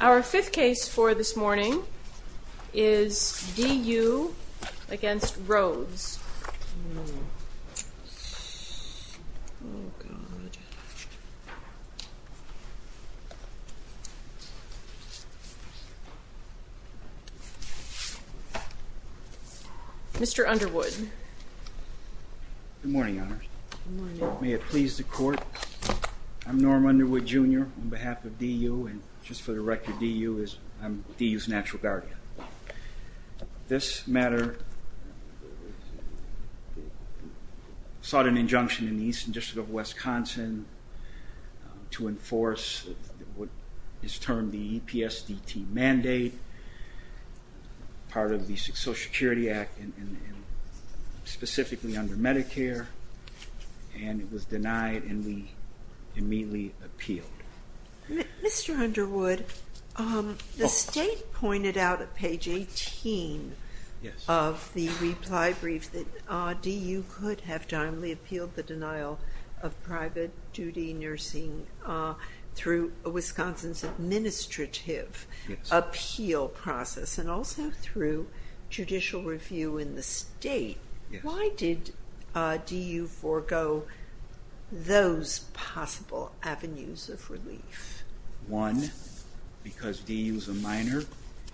Our fifth case for this morning is D. U. v. Rhoades. Mr. Underwood. Good morning, may it please the court. I'm Norm Underwood Jr. on behalf of D. U. and just for the record D. U. is D. U.'s natural guardian. This matter sought an injunction in the Eastern District of Wisconsin to enforce what is termed the specifically under Medicare and it was denied and we immediately appealed. Mr. Underwood, the state pointed out at page 18 of the reply brief that D. U. could have timely appealed the denial of private duty nursing through Wisconsin's administrative appeal process and also through judicial review in the state. Why did D. U. forego those possible avenues of relief? One, because D. U. is a minor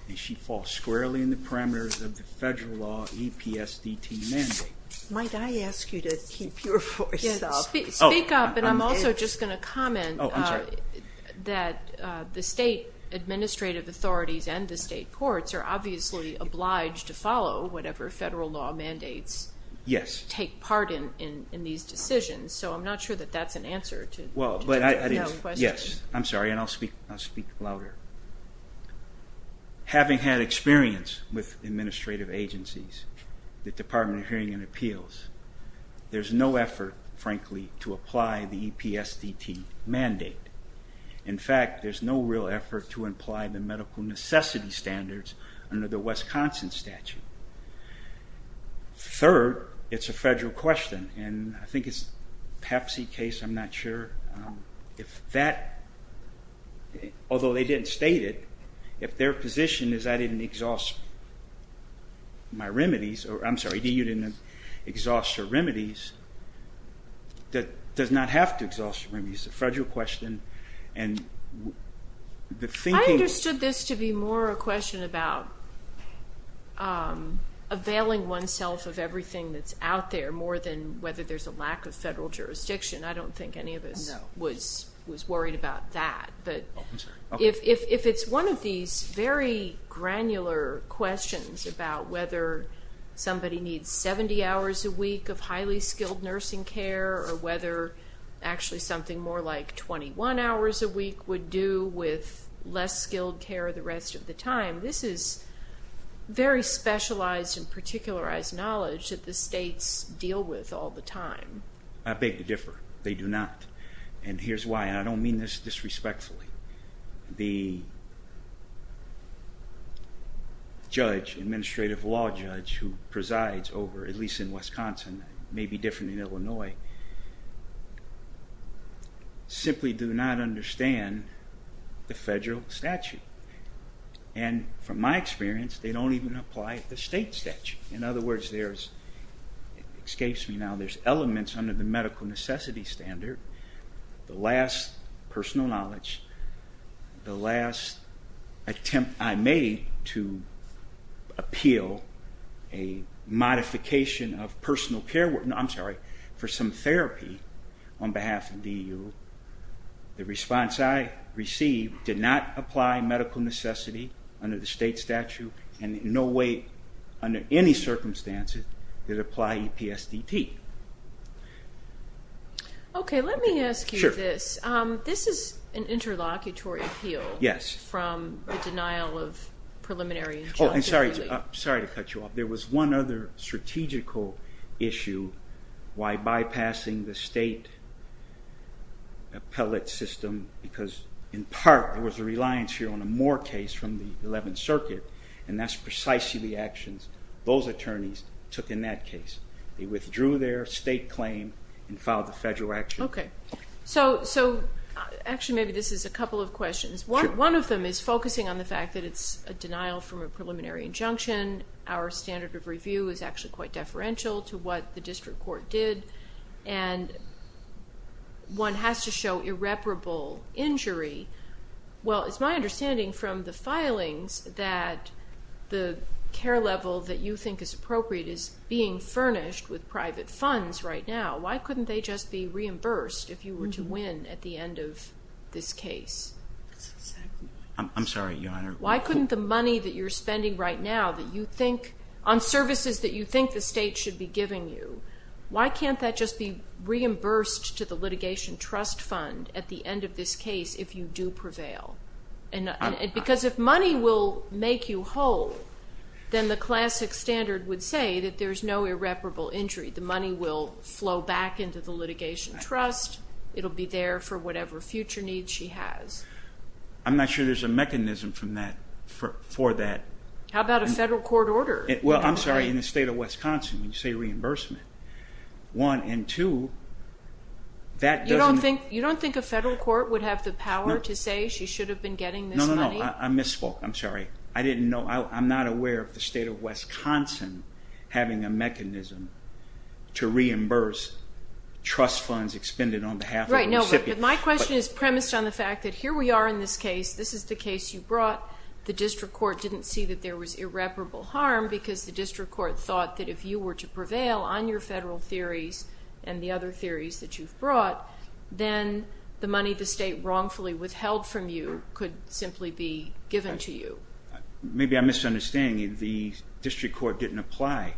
and she falls squarely in the parameters of the federal law EPSDT mandate. Might I ask you to keep your voice up? Speak up and I'm also just going to comment that the state administrative authorities and the state courts are obviously obliged to follow whatever federal law mandates take part in these decisions so I'm not sure that that's an answer to the question. Well, yes, I'm sorry and I'll speak louder. Having had experience with administrative agencies, the Department of Hearing and Appeals, there's no effort frankly to apply the EPSDT mandate. In fact, there's no real effort to imply the medical necessity standards under the Wisconsin statute. Third, it's a federal question and I think it's PEPC case, I'm not sure if that, although they didn't state it, if their position is I didn't exhaust my remedies or I'm sorry, D. U. didn't exhaust her remedies, that does not have to exhaust her remedies. It's a federal question and the thinking... I understood this to be more a question about availing oneself of everything that's out there more than whether there's a lack of federal jurisdiction. I don't think any of us was worried about that, but if it's one of these very granular questions about whether somebody needs 70 hours a week of highly actually something more like 21 hours a week would do with less skilled care the rest of the time, this is very specialized and particularized knowledge that the states deal with all the time. I beg to differ. They do not and here's why and I don't mean this disrespectfully. The judge, administrative law judge, who simply do not understand the federal statute and from my experience they don't even apply the state statute. In other words, there's, excuse me now, there's elements under the medical necessity standard, the last personal knowledge, the last attempt I made to appeal a modification of personal care, I'm sorry, for some therapy on behalf of DU, the response I received did not apply medical necessity under the state statute and in no way under any circumstances did it apply EPSDT. Okay, let me ask you this. This is an interlocutory appeal. Yes. From the denial of preliminary... Oh, I'm sorry, sorry to cut you off. There was one other strategical issue why bypassing the state appellate system because in part there was a reliance here on a Moore case from the 11th Circuit and that's precisely the actions those attorneys took in that case. They withdrew their state claim and filed the federal action. Okay, so actually maybe this is a couple of questions. One of them is focusing on the fact that it's a denial from a preliminary injunction. Our standard of review is actually quite deferential to what the district court did and one has to show irreparable injury. Well, it's my understanding from the filings that the care level that you think is appropriate is being furnished with private funds right now. Why couldn't they just be reimbursed if you were to win at the end of this case? I'm sorry, Your Honor. Why couldn't the money that you're spending right now that you think, on services that you think the state should be giving you, why can't that just be reimbursed to the litigation trust fund at the end of this case if you do prevail? Because if money will make you whole, then the classic standard would say that there's no irreparable injury. The money will flow back into the litigation trust. It'll be there for whatever future needs she has. I'm not sure there's a mechanism for that. How about a federal court order? Well, I'm sorry, in the state of Wisconsin when you say reimbursement, one, and two, that doesn't... You don't think a federal court would have the power to say she should have been getting this money? No, I misspoke. I'm sorry. I didn't know. I'm not aware of the state of Wisconsin having a mechanism to reimburse trust funds expended on behalf of a recipient. Right, no, but my question is premised on the fact that here we are in this case. This is the case you brought. The district court didn't see that there was irreparable harm because the district court thought that if you were to prevail on your federal theories and the other theories that you've brought, then the money the state wrongfully withheld from you could simply be given to you. Maybe I'm wrong. Maybe I didn't apply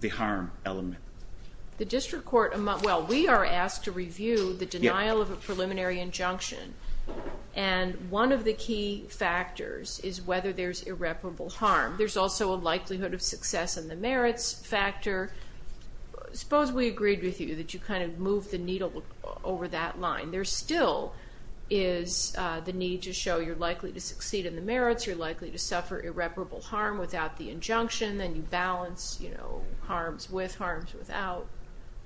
the harm element. The district court, well we are asked to review the denial of a preliminary injunction and one of the key factors is whether there's irreparable harm. There's also a likelihood of success in the merits factor. Suppose we agreed with you that you kind of move the needle over that line. There still is the need to show you're likely to succeed in the merits, you're likely to suffer irreparable harm without the injunction, then you balance, you know, harms with harms without.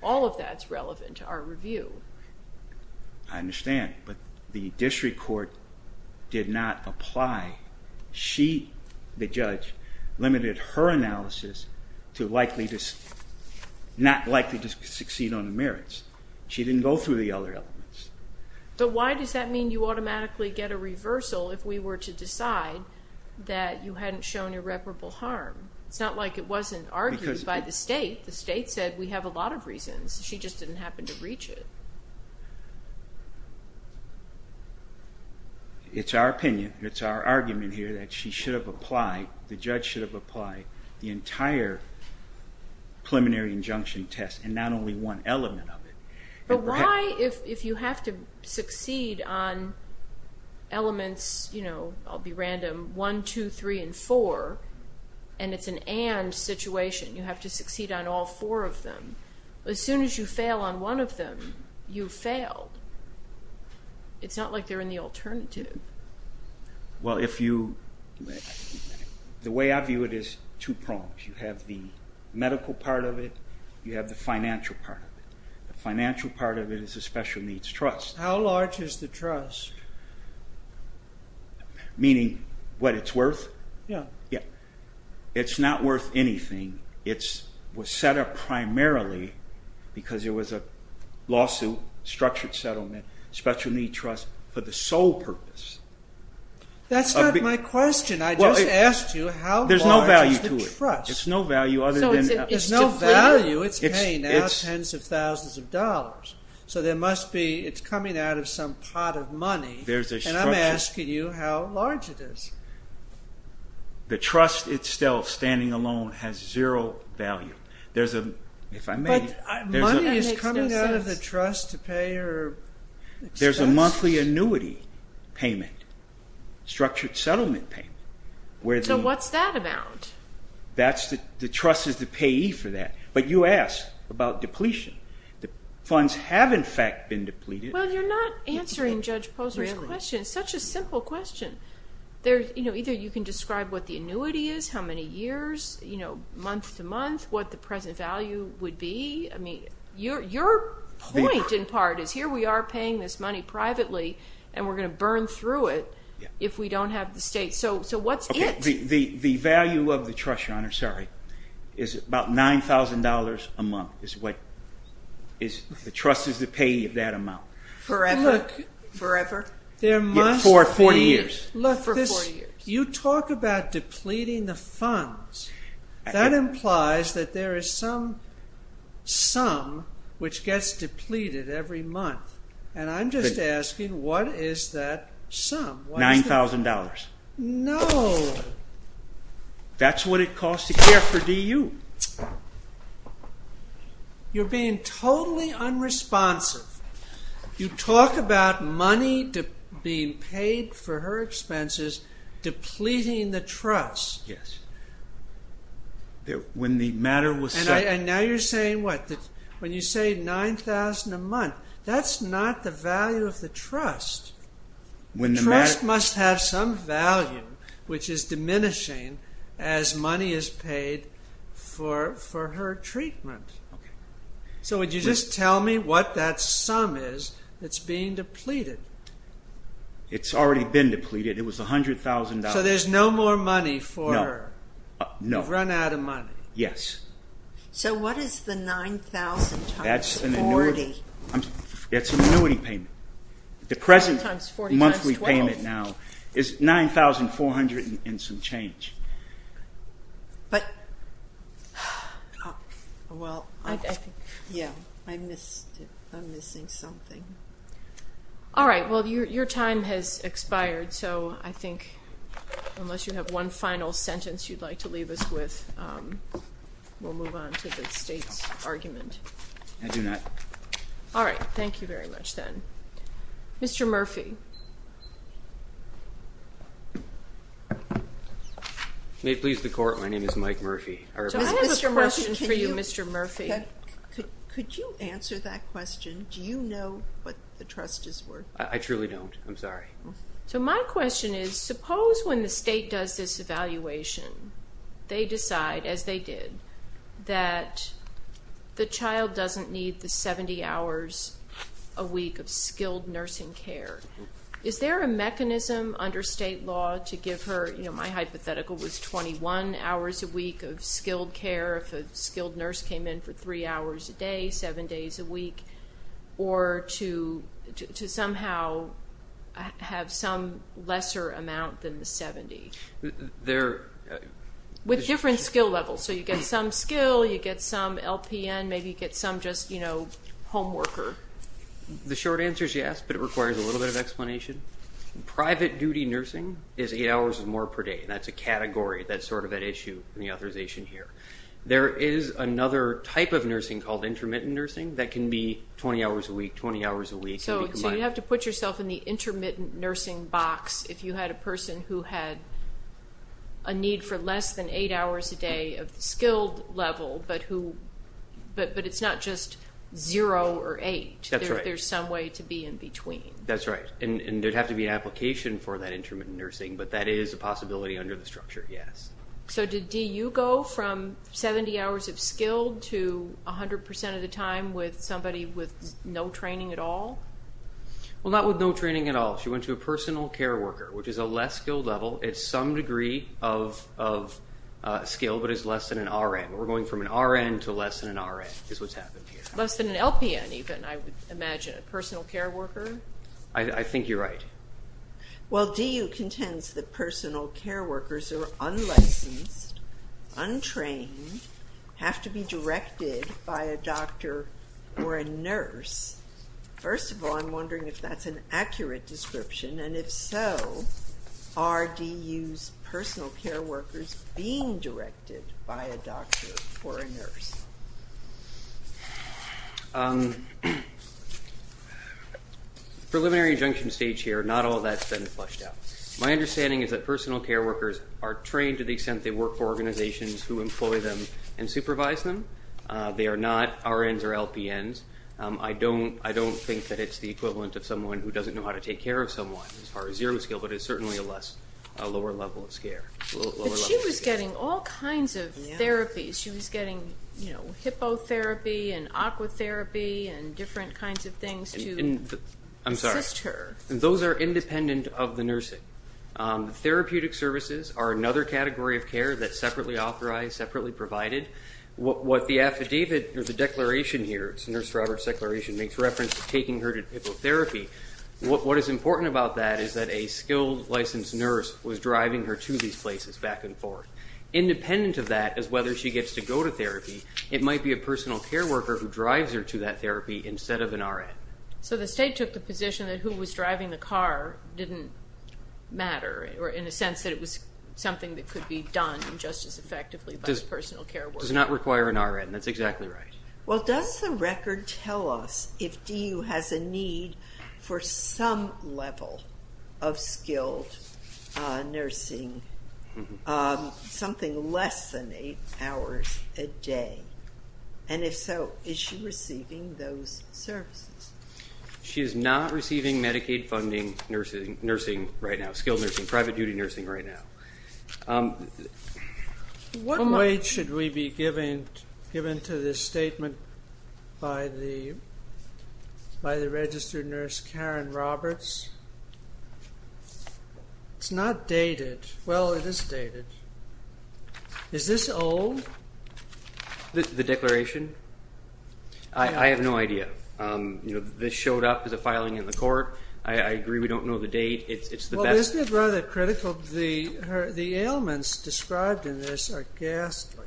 All of that's relevant to our review. I understand, but the district court did not apply. She, the judge, limited her analysis to likely to, not likely to succeed on the merits. She didn't go through the other elements. But why does that mean you automatically get a reversal if we were to decide that you have irreparable harm? It's not like it wasn't argued by the state. The state said we have a lot of reasons. She just didn't happen to reach it. It's our opinion, it's our argument here that she should have applied, the judge should have applied, the entire preliminary injunction test and not only one element of it. But why, if you have to succeed on elements, you know, I'll be and it's an and situation, you have to succeed on all four of them. As soon as you fail on one of them, you've failed. It's not like they're in the alternative. Well, if you, the way I view it is two prongs. You have the medical part of it, you have the financial part of it. The financial part of it is a special needs trust. How large is the trust? Meaning, what it's worth? Yeah. It's not worth anything. It was set up primarily because it was a lawsuit, structured settlement, special needs trust for the sole purpose. That's not my question. I just asked you how large is the trust. There's no value to it. There's no value. It's paying out tens of thousands of dollars. So there must be, it's coming out of some pot of money. And I'm asking you how large it is. The trust itself, standing alone, has zero value. There's a, if I may... But money is coming out of the trust to pay your expense? There's a monthly annuity payment, structured settlement payment. So what's that about? That's the, the trust is the payee for that. But you asked about depletion. The funds have in fact been depleted. Well, you're not answering Judge Posner your question. It's such a simple question. There's, you know, either you can describe what the annuity is, how many years, you know, month to month, what the present value would be. I mean, your point in part is here we are paying this money privately and we're going to burn through it if we don't have the state. So what's it? The value of the trust, Your Honor, sorry, is about $9,000 a month is what, the trust is the payee of that amount. Forever? Forever? For 40 years. Look, this, you talk about depleting the funds. That implies that there is some sum which gets depleted every month. And I'm just asking what is that sum? $9,000. No. That's what it costs to care for DU. You're being totally unresponsive. You talk about money being paid for her expenses, depleting the trust. Yes. When the matter was set. And now you're saying what? When you say $9,000 a month, that's not the value of the trust. The trust must have some value which is diminishing as money is paid for her treatment. So would you just tell me what that sum is that's being depleted? It's already been depleted. It was $100,000. So there's no more money for her? No. You've run out of money? Yes. So what is the $9,000 times 40? It's an annuity payment. The present monthly payment now is $9,400 and some change. But, well, yeah, I'm missing something. All right. Well, your time has expired, so I think unless you have one final sentence you'd like to leave us with, we'll move on to the state's argument. I do not. All right. Thank you very much, then. Mr. Murphy. May it please the Court, my name is Mike Murphy. I have a question for you, Mr. Murphy. Could you answer that question? Do you know what the trust is worth? I truly don't. I'm sorry. So my question is, suppose when the state does this evaluation, they decide, as they did, that the child doesn't need the 70 hours a week of skilled nursing care. Is there a mechanism under state law to give her, you know, my hypothetical was 21 hours a week of skilled care if a skilled nurse came in for 3 hours a day, 7 days a week, or to somehow have some lesser amount than the 70? With different skill levels, so you get some skill, you get some LPN, maybe you get some just, you know, home worker. The short answer is yes, but it requires a little bit of explanation. Private duty nursing is 8 hours or more per day, and that's a category that's sort of at issue in the authorization here. There is another type of nursing called intermittent nursing that can be 20 hours a week, 20 hours a week. So you'd have to put yourself in the intermittent nursing box if you had a person who had a need for less than 8 hours a day of the skilled level, but it's not just 0 or 8. There's some way to be in between. That's right, and there'd have to be an application for that intermittent nursing, but that is a possibility under the structure, yes. So did DU go from 70 hours of skilled to 100% of the time with somebody with no training at all? Well, not with no training at all. She went to a personal care worker, which is a less skilled level. It's some degree of skill, but it's less than an RN. We're going from an RN to less than an RN is what's happening here. Less than an LPN even, I would imagine, a personal care worker. I think you're right. Well, DU contends that personal care workers are unlicensed, untrained, have to be directed by a doctor or a nurse. First of all, I'm wondering if that's an accurate description, and if so, are DU's personal care workers being directed by a doctor or a nurse? Preliminary injunction stage here, not all that's been fleshed out. My understanding is that personal care workers are trained to the extent they work for organizations who employ them and supervise them. They are not RNs or LPNs. I don't think that it's the equivalent of someone who doesn't know how to take care of someone as far as zero skill, but it's certainly a lower level of skill. But she was getting all kinds of therapies. She was getting hippotherapy and aquatherapy and different kinds of things to assist her. I'm sorry. Those are independent of the nursing. Therapeutic services are another category of care that's separately authorized, separately provided. What the affidavit or the declaration here, it's Nurse Robert's declaration, makes reference to taking her to hippotherapy. What is important about that is that a skilled, licensed nurse was driving her to these places back and forth. Independent of that is whether she gets to go to therapy. It might be a personal care worker who drives her to that therapy instead of an RN. So the state took the position that who was driving the car didn't matter, or in a sense that it was something that could be done just as effectively by a personal care worker. Does not require an RN. That's exactly right. Well, does the record tell us if DU has a need for some level of skilled nursing, something less than eight hours a day? And if so, is she receiving those services? She is not receiving Medicaid funding nursing right now, skilled nursing, private duty nursing right now. What weight should we be given to this statement by the registered nurse Karen Roberts? It's not dated. Well, it is dated. Is this old? The declaration? I have no idea. This showed up as a filing in the court. I agree we don't know the date. Well, isn't it rather critical? The ailments described in this are ghastly.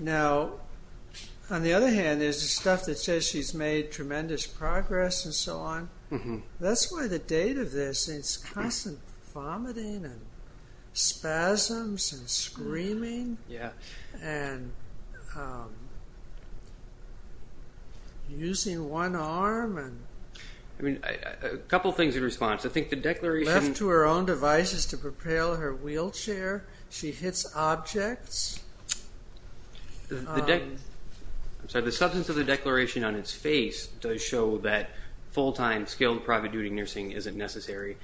Now, on the other hand, there's the stuff that says she's made tremendous progress and so on. That's why the date of this is constant vomiting and spasms and screaming and using one arm. I mean, a couple things in response. I think the declaration... Left to her own devices to propel her wheelchair. She hits objects. I'm sorry. The substance of the declaration on its face does show that full-time skilled private duty nursing isn't necessary.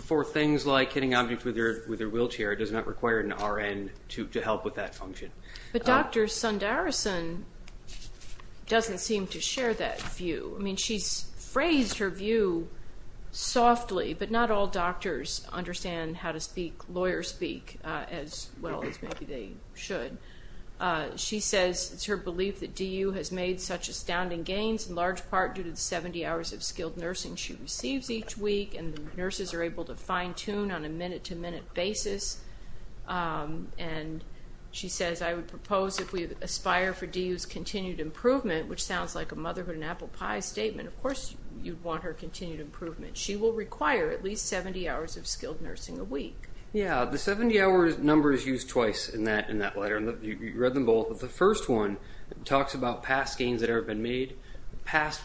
For things like hitting objects with her wheelchair, it does not require an RN to help with that function. But Dr. Sundararajan doesn't seem to share that view. I mean, she's phrased her view softly. But not all doctors understand how to speak lawyer speak as well as maybe they should. She says it's her belief that DU has made such astounding gains, in large part due to the 70 hours of skilled nursing she receives each week, and the nurses are able to fine-tune on a minute-to-minute basis. And she says, I would propose if we aspire for DU's continued improvement, which sounds like a motherhood and apple pie statement, of course you'd want her continued improvement. She will require at least 70 hours of skilled nursing a week. Yeah, the 70-hour number is used twice in that letter. You read them both. But the first one talks about past gains that have been made.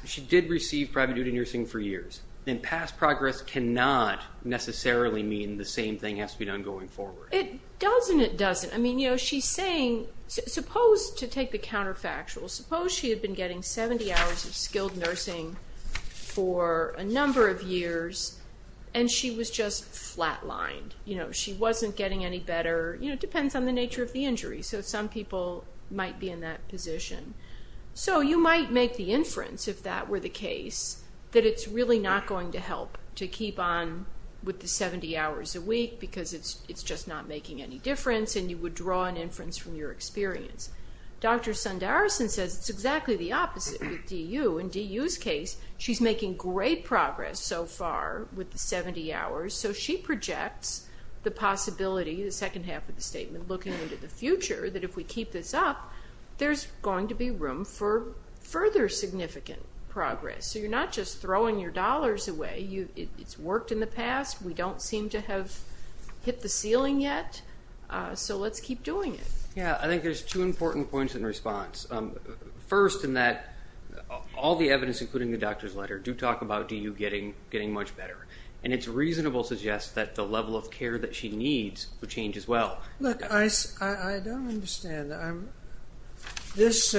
She did receive private duty nursing for years. And past progress cannot necessarily mean the same thing has to be done going forward. It does and it doesn't. I mean, you know, she's saying, suppose, to take the counterfactual, suppose she had been getting 70 hours of skilled nursing for a number of years and she was just flat-lined. You know, she wasn't getting any better. You know, it depends on the nature of the injury. So some people might be in that position. So you might make the inference, if that were the case, that it's really not going to help to keep on with the 70 hours a week because it's just not making any difference, and you would draw an inference from your experience. Dr. Sundararajan says it's exactly the opposite with D.U. In D.U.'s case, she's making great progress so far with the 70 hours. So she projects the possibility, the second half of the statement, looking into the future that if we keep this up, there's going to be room for further significant progress. So you're not just throwing your dollars away. It's worked in the past. We don't seem to have hit the ceiling yet. So let's keep doing it. Yeah, I think there's two important points in response. First, in that all the evidence, including the doctor's letter, do talk about D.U. getting much better, and it's reasonable to suggest that the level of care that she needs would change as well. Look, I don't understand. This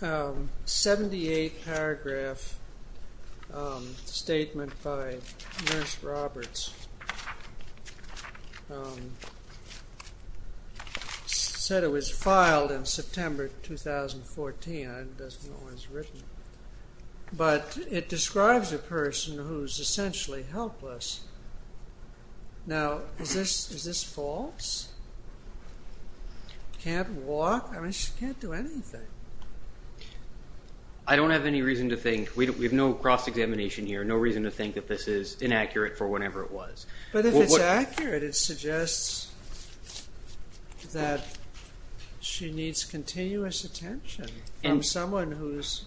78-paragraph statement by Nurse Roberts said it was filed in September 2014. It doesn't know when it was written. But it describes a person who's essentially helpless. Now, is this false? Can't walk? I mean, she can't do anything. I don't have any reason to think. We have no cross-examination here, no reason to think that this is inaccurate for whatever it was. But if it's accurate, it suggests that she needs continuous attention from someone who's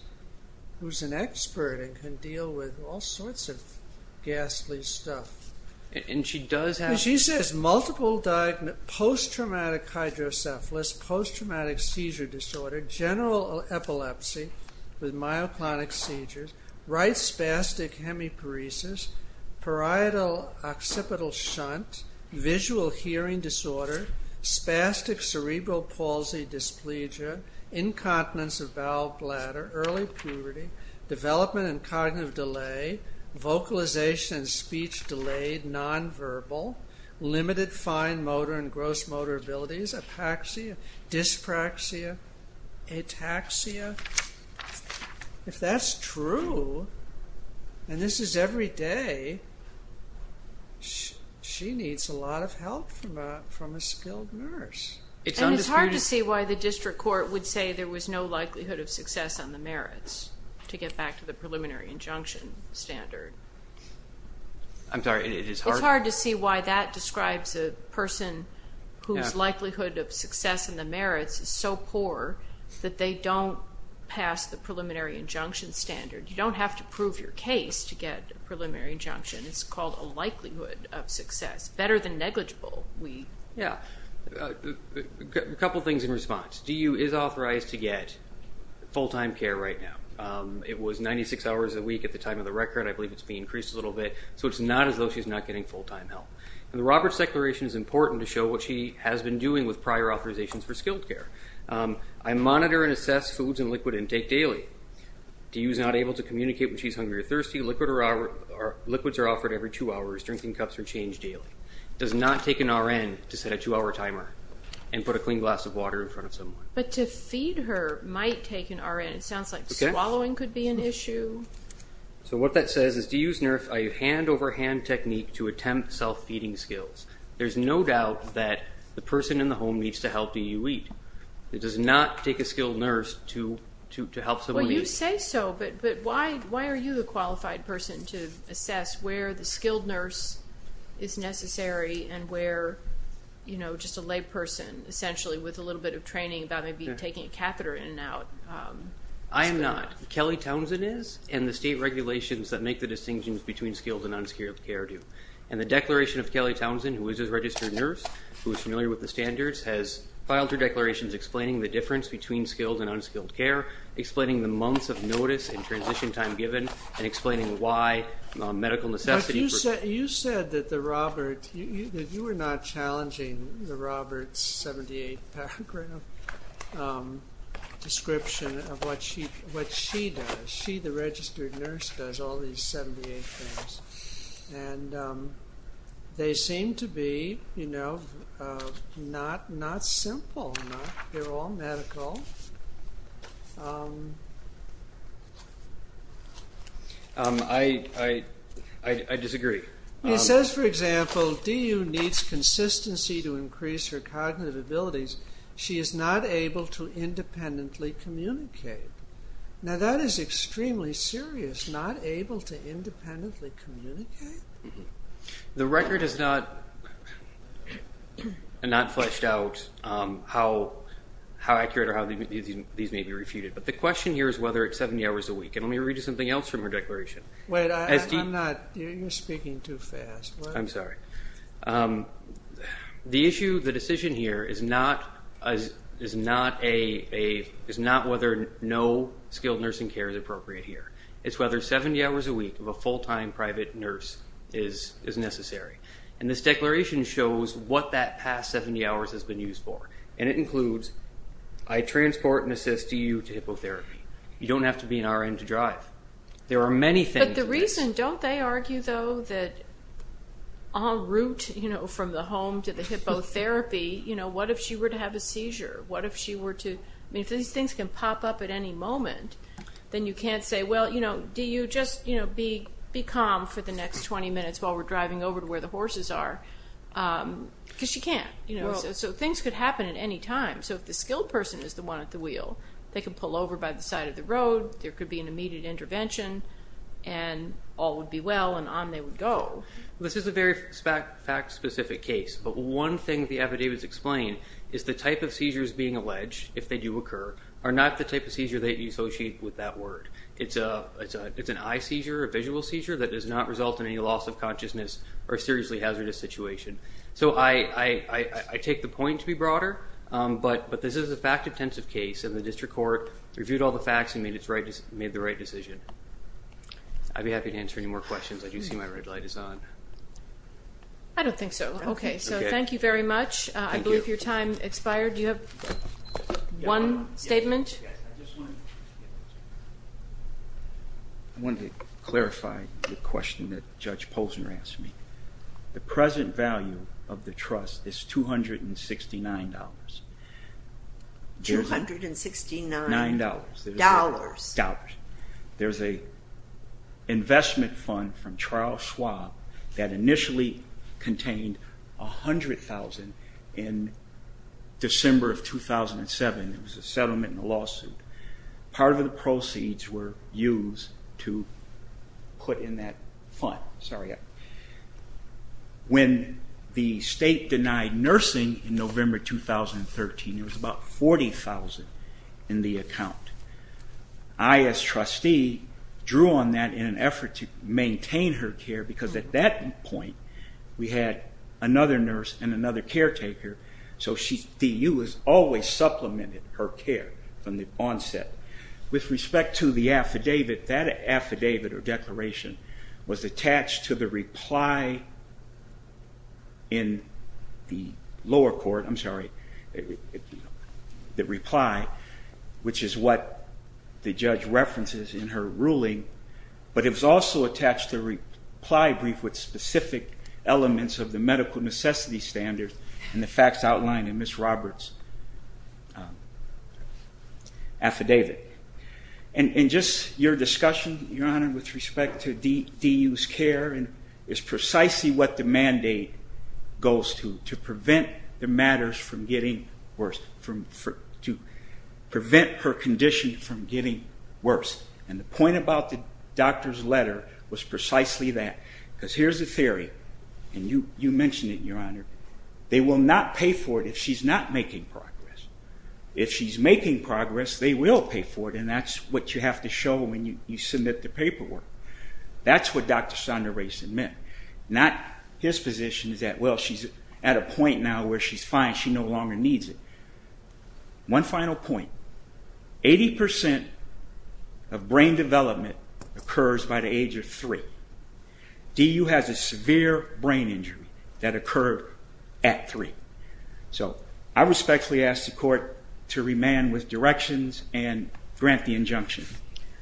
an expert and can deal with all sorts of ghastly stuff. She says, multiple post-traumatic hydrocephalus, post-traumatic seizure disorder, general epilepsy with myoclonic seizures, right spastic hemiparesis, parietal occipital shunt, visual hearing disorder, spastic cerebral palsy dysplegia, incontinence of bowel, bladder, early puberty, development in cognitive delay, vocalization and speech delayed, nonverbal, limited fine motor and gross motor abilities, apaxia, dyspraxia, ataxia. If that's true, and this is every day, she needs a lot of help from a skilled nurse. And it's hard to see why the district court would say there was no likelihood of success on the merits to get back to the preliminary injunction standard. It's hard to see why that describes a person whose likelihood of success in the merits is so poor that they don't pass the preliminary injunction standard. You don't have to prove your case to get a preliminary injunction. It's called a likelihood of success. Better than negligible. A couple things in response. DU is authorized to get full-time care right now. It was 96 hours a week at the time of the record. I believe it's been increased a little bit. So it's not as though she's not getting full-time help. And the Roberts declaration is important to show what she has been doing with prior authorizations for skilled care. I monitor and assess foods and liquid intake daily. DU is not able to communicate when she's hungry or thirsty. Liquids are offered every two hours. Drinking cups are changed daily. It does not take an RN to set a two-hour timer and put a clean glass of water in front of someone. But to feed her might take an RN. It sounds like swallowing could be an issue. So what that says is DU's hand-over-hand technique to attempt self-feeding skills. There's no doubt that the person in the home needs to help DU eat. It does not take a skilled nurse to help someone eat. Well, you say so, but why are you the qualified person to assess where the skilled nurse is necessary and where, you know, just a layperson, essentially, with a little bit of training about maybe taking a catheter in and out? I am not. Kelly Townsend is, and the state regulations that make the distinctions between skilled and unskilled care do. And the declaration of Kelly Townsend, who is a registered nurse, who is familiar with the standards, has filed her declarations explaining the difference between skilled and unskilled care, explaining the months of notice and transition time given, and explaining why medical necessity for... You said that the Robert... You were not challenging the Robert's 78-paragraph description of what she does. She, the registered nurse, does all these 78 things. And they seem to be, you know, not simple enough. They're all medical. I disagree. He says, for example, DU needs consistency to increase her cognitive abilities. She is not able to independently communicate. Now, that is extremely serious. Not able to independently communicate? These may be refuted. But the question here is whether it's 70 hours a week. And let me read you something else from her declaration. Wait, I'm not... You're speaking too fast. I'm sorry. The issue, the decision here is not whether no skilled nursing care is appropriate here. It's whether 70 hours a week of a full-time private nurse is necessary. And this declaration shows what that past 70 hours has been used for. And it includes, I transport and assist DU to hippotherapy. You don't have to be an RN to drive. There are many things. But the reason, don't they argue, though, that en route from the home to the hippotherapy, what if she were to have a seizure? What if she were to... I mean, if these things can pop up at any moment, then you can't say, well, you know, DU, just be calm for the next 20 minutes while we're driving over to where the horses are. Because she can't. So things could happen at any time. So if the skilled person is the one at the wheel, they can pull over by the side of the road, there could be an immediate intervention, and all would be well and on they would go. This is a very fact-specific case. But one thing the affidavits explain is the type of seizures being alleged, if they do occur, are not the type of seizure that you associate with that word. It's an eye seizure, a visual seizure, that does not result in any loss of consciousness or a seriously hazardous situation. So I take the point to be broader, but this is a fact-intensive case, and the district court reviewed all the facts and made the right decision. I'd be happy to answer any more questions. I do see my red light is on. I don't think so. Okay, so thank you very much. I believe your time expired. Do you have one statement? I wanted to clarify the question that Judge Polzner asked me. The present value of the trust is $269. There's an investment fund from Charles Schwab that initially contained $100,000 in December of 2007. It was a settlement and a lawsuit. Part of the proceeds were used to put in that fund. When the state denied nursing in November 2013, it was about $40,000 in the account. I, as trustee, drew on that in an effort to maintain her care because at that point we had another nurse and another caretaker, so the U.S. always supplemented her care from the onset. With respect to the affidavit, that affidavit or declaration was attached to the reply in the lower court, I'm sorry, the reply, which is what the judge references in her ruling, but it was also attached to a reply brief with specific elements of the medical necessity standards and the facts outlined in Ms. Roberts' affidavit. And just your discussion, Your Honor, with respect to de-use care is precisely what the mandate goes to, to prevent the matters from getting worse, to prevent her condition from getting worse. And the point about the doctor's letter was precisely that because here's the theory, and you mentioned it, Your Honor, they will not pay for it if she's not making progress. If she's making progress, they will pay for it, and that's what you have to show when you submit the paperwork. That's what Dr. Sondra Rayson meant. Not his position is that, well, she's at a point now where she's fine, she no longer needs it. One final point. Eighty percent of brain development occurs by the age of three. DU has a severe brain injury that occurred at three. So I respectfully ask the court to remand with directions and grant the injunction.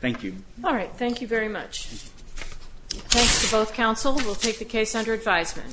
Thank you. All right, thank you very much. Thanks to both counsel. We'll take the case under advisement.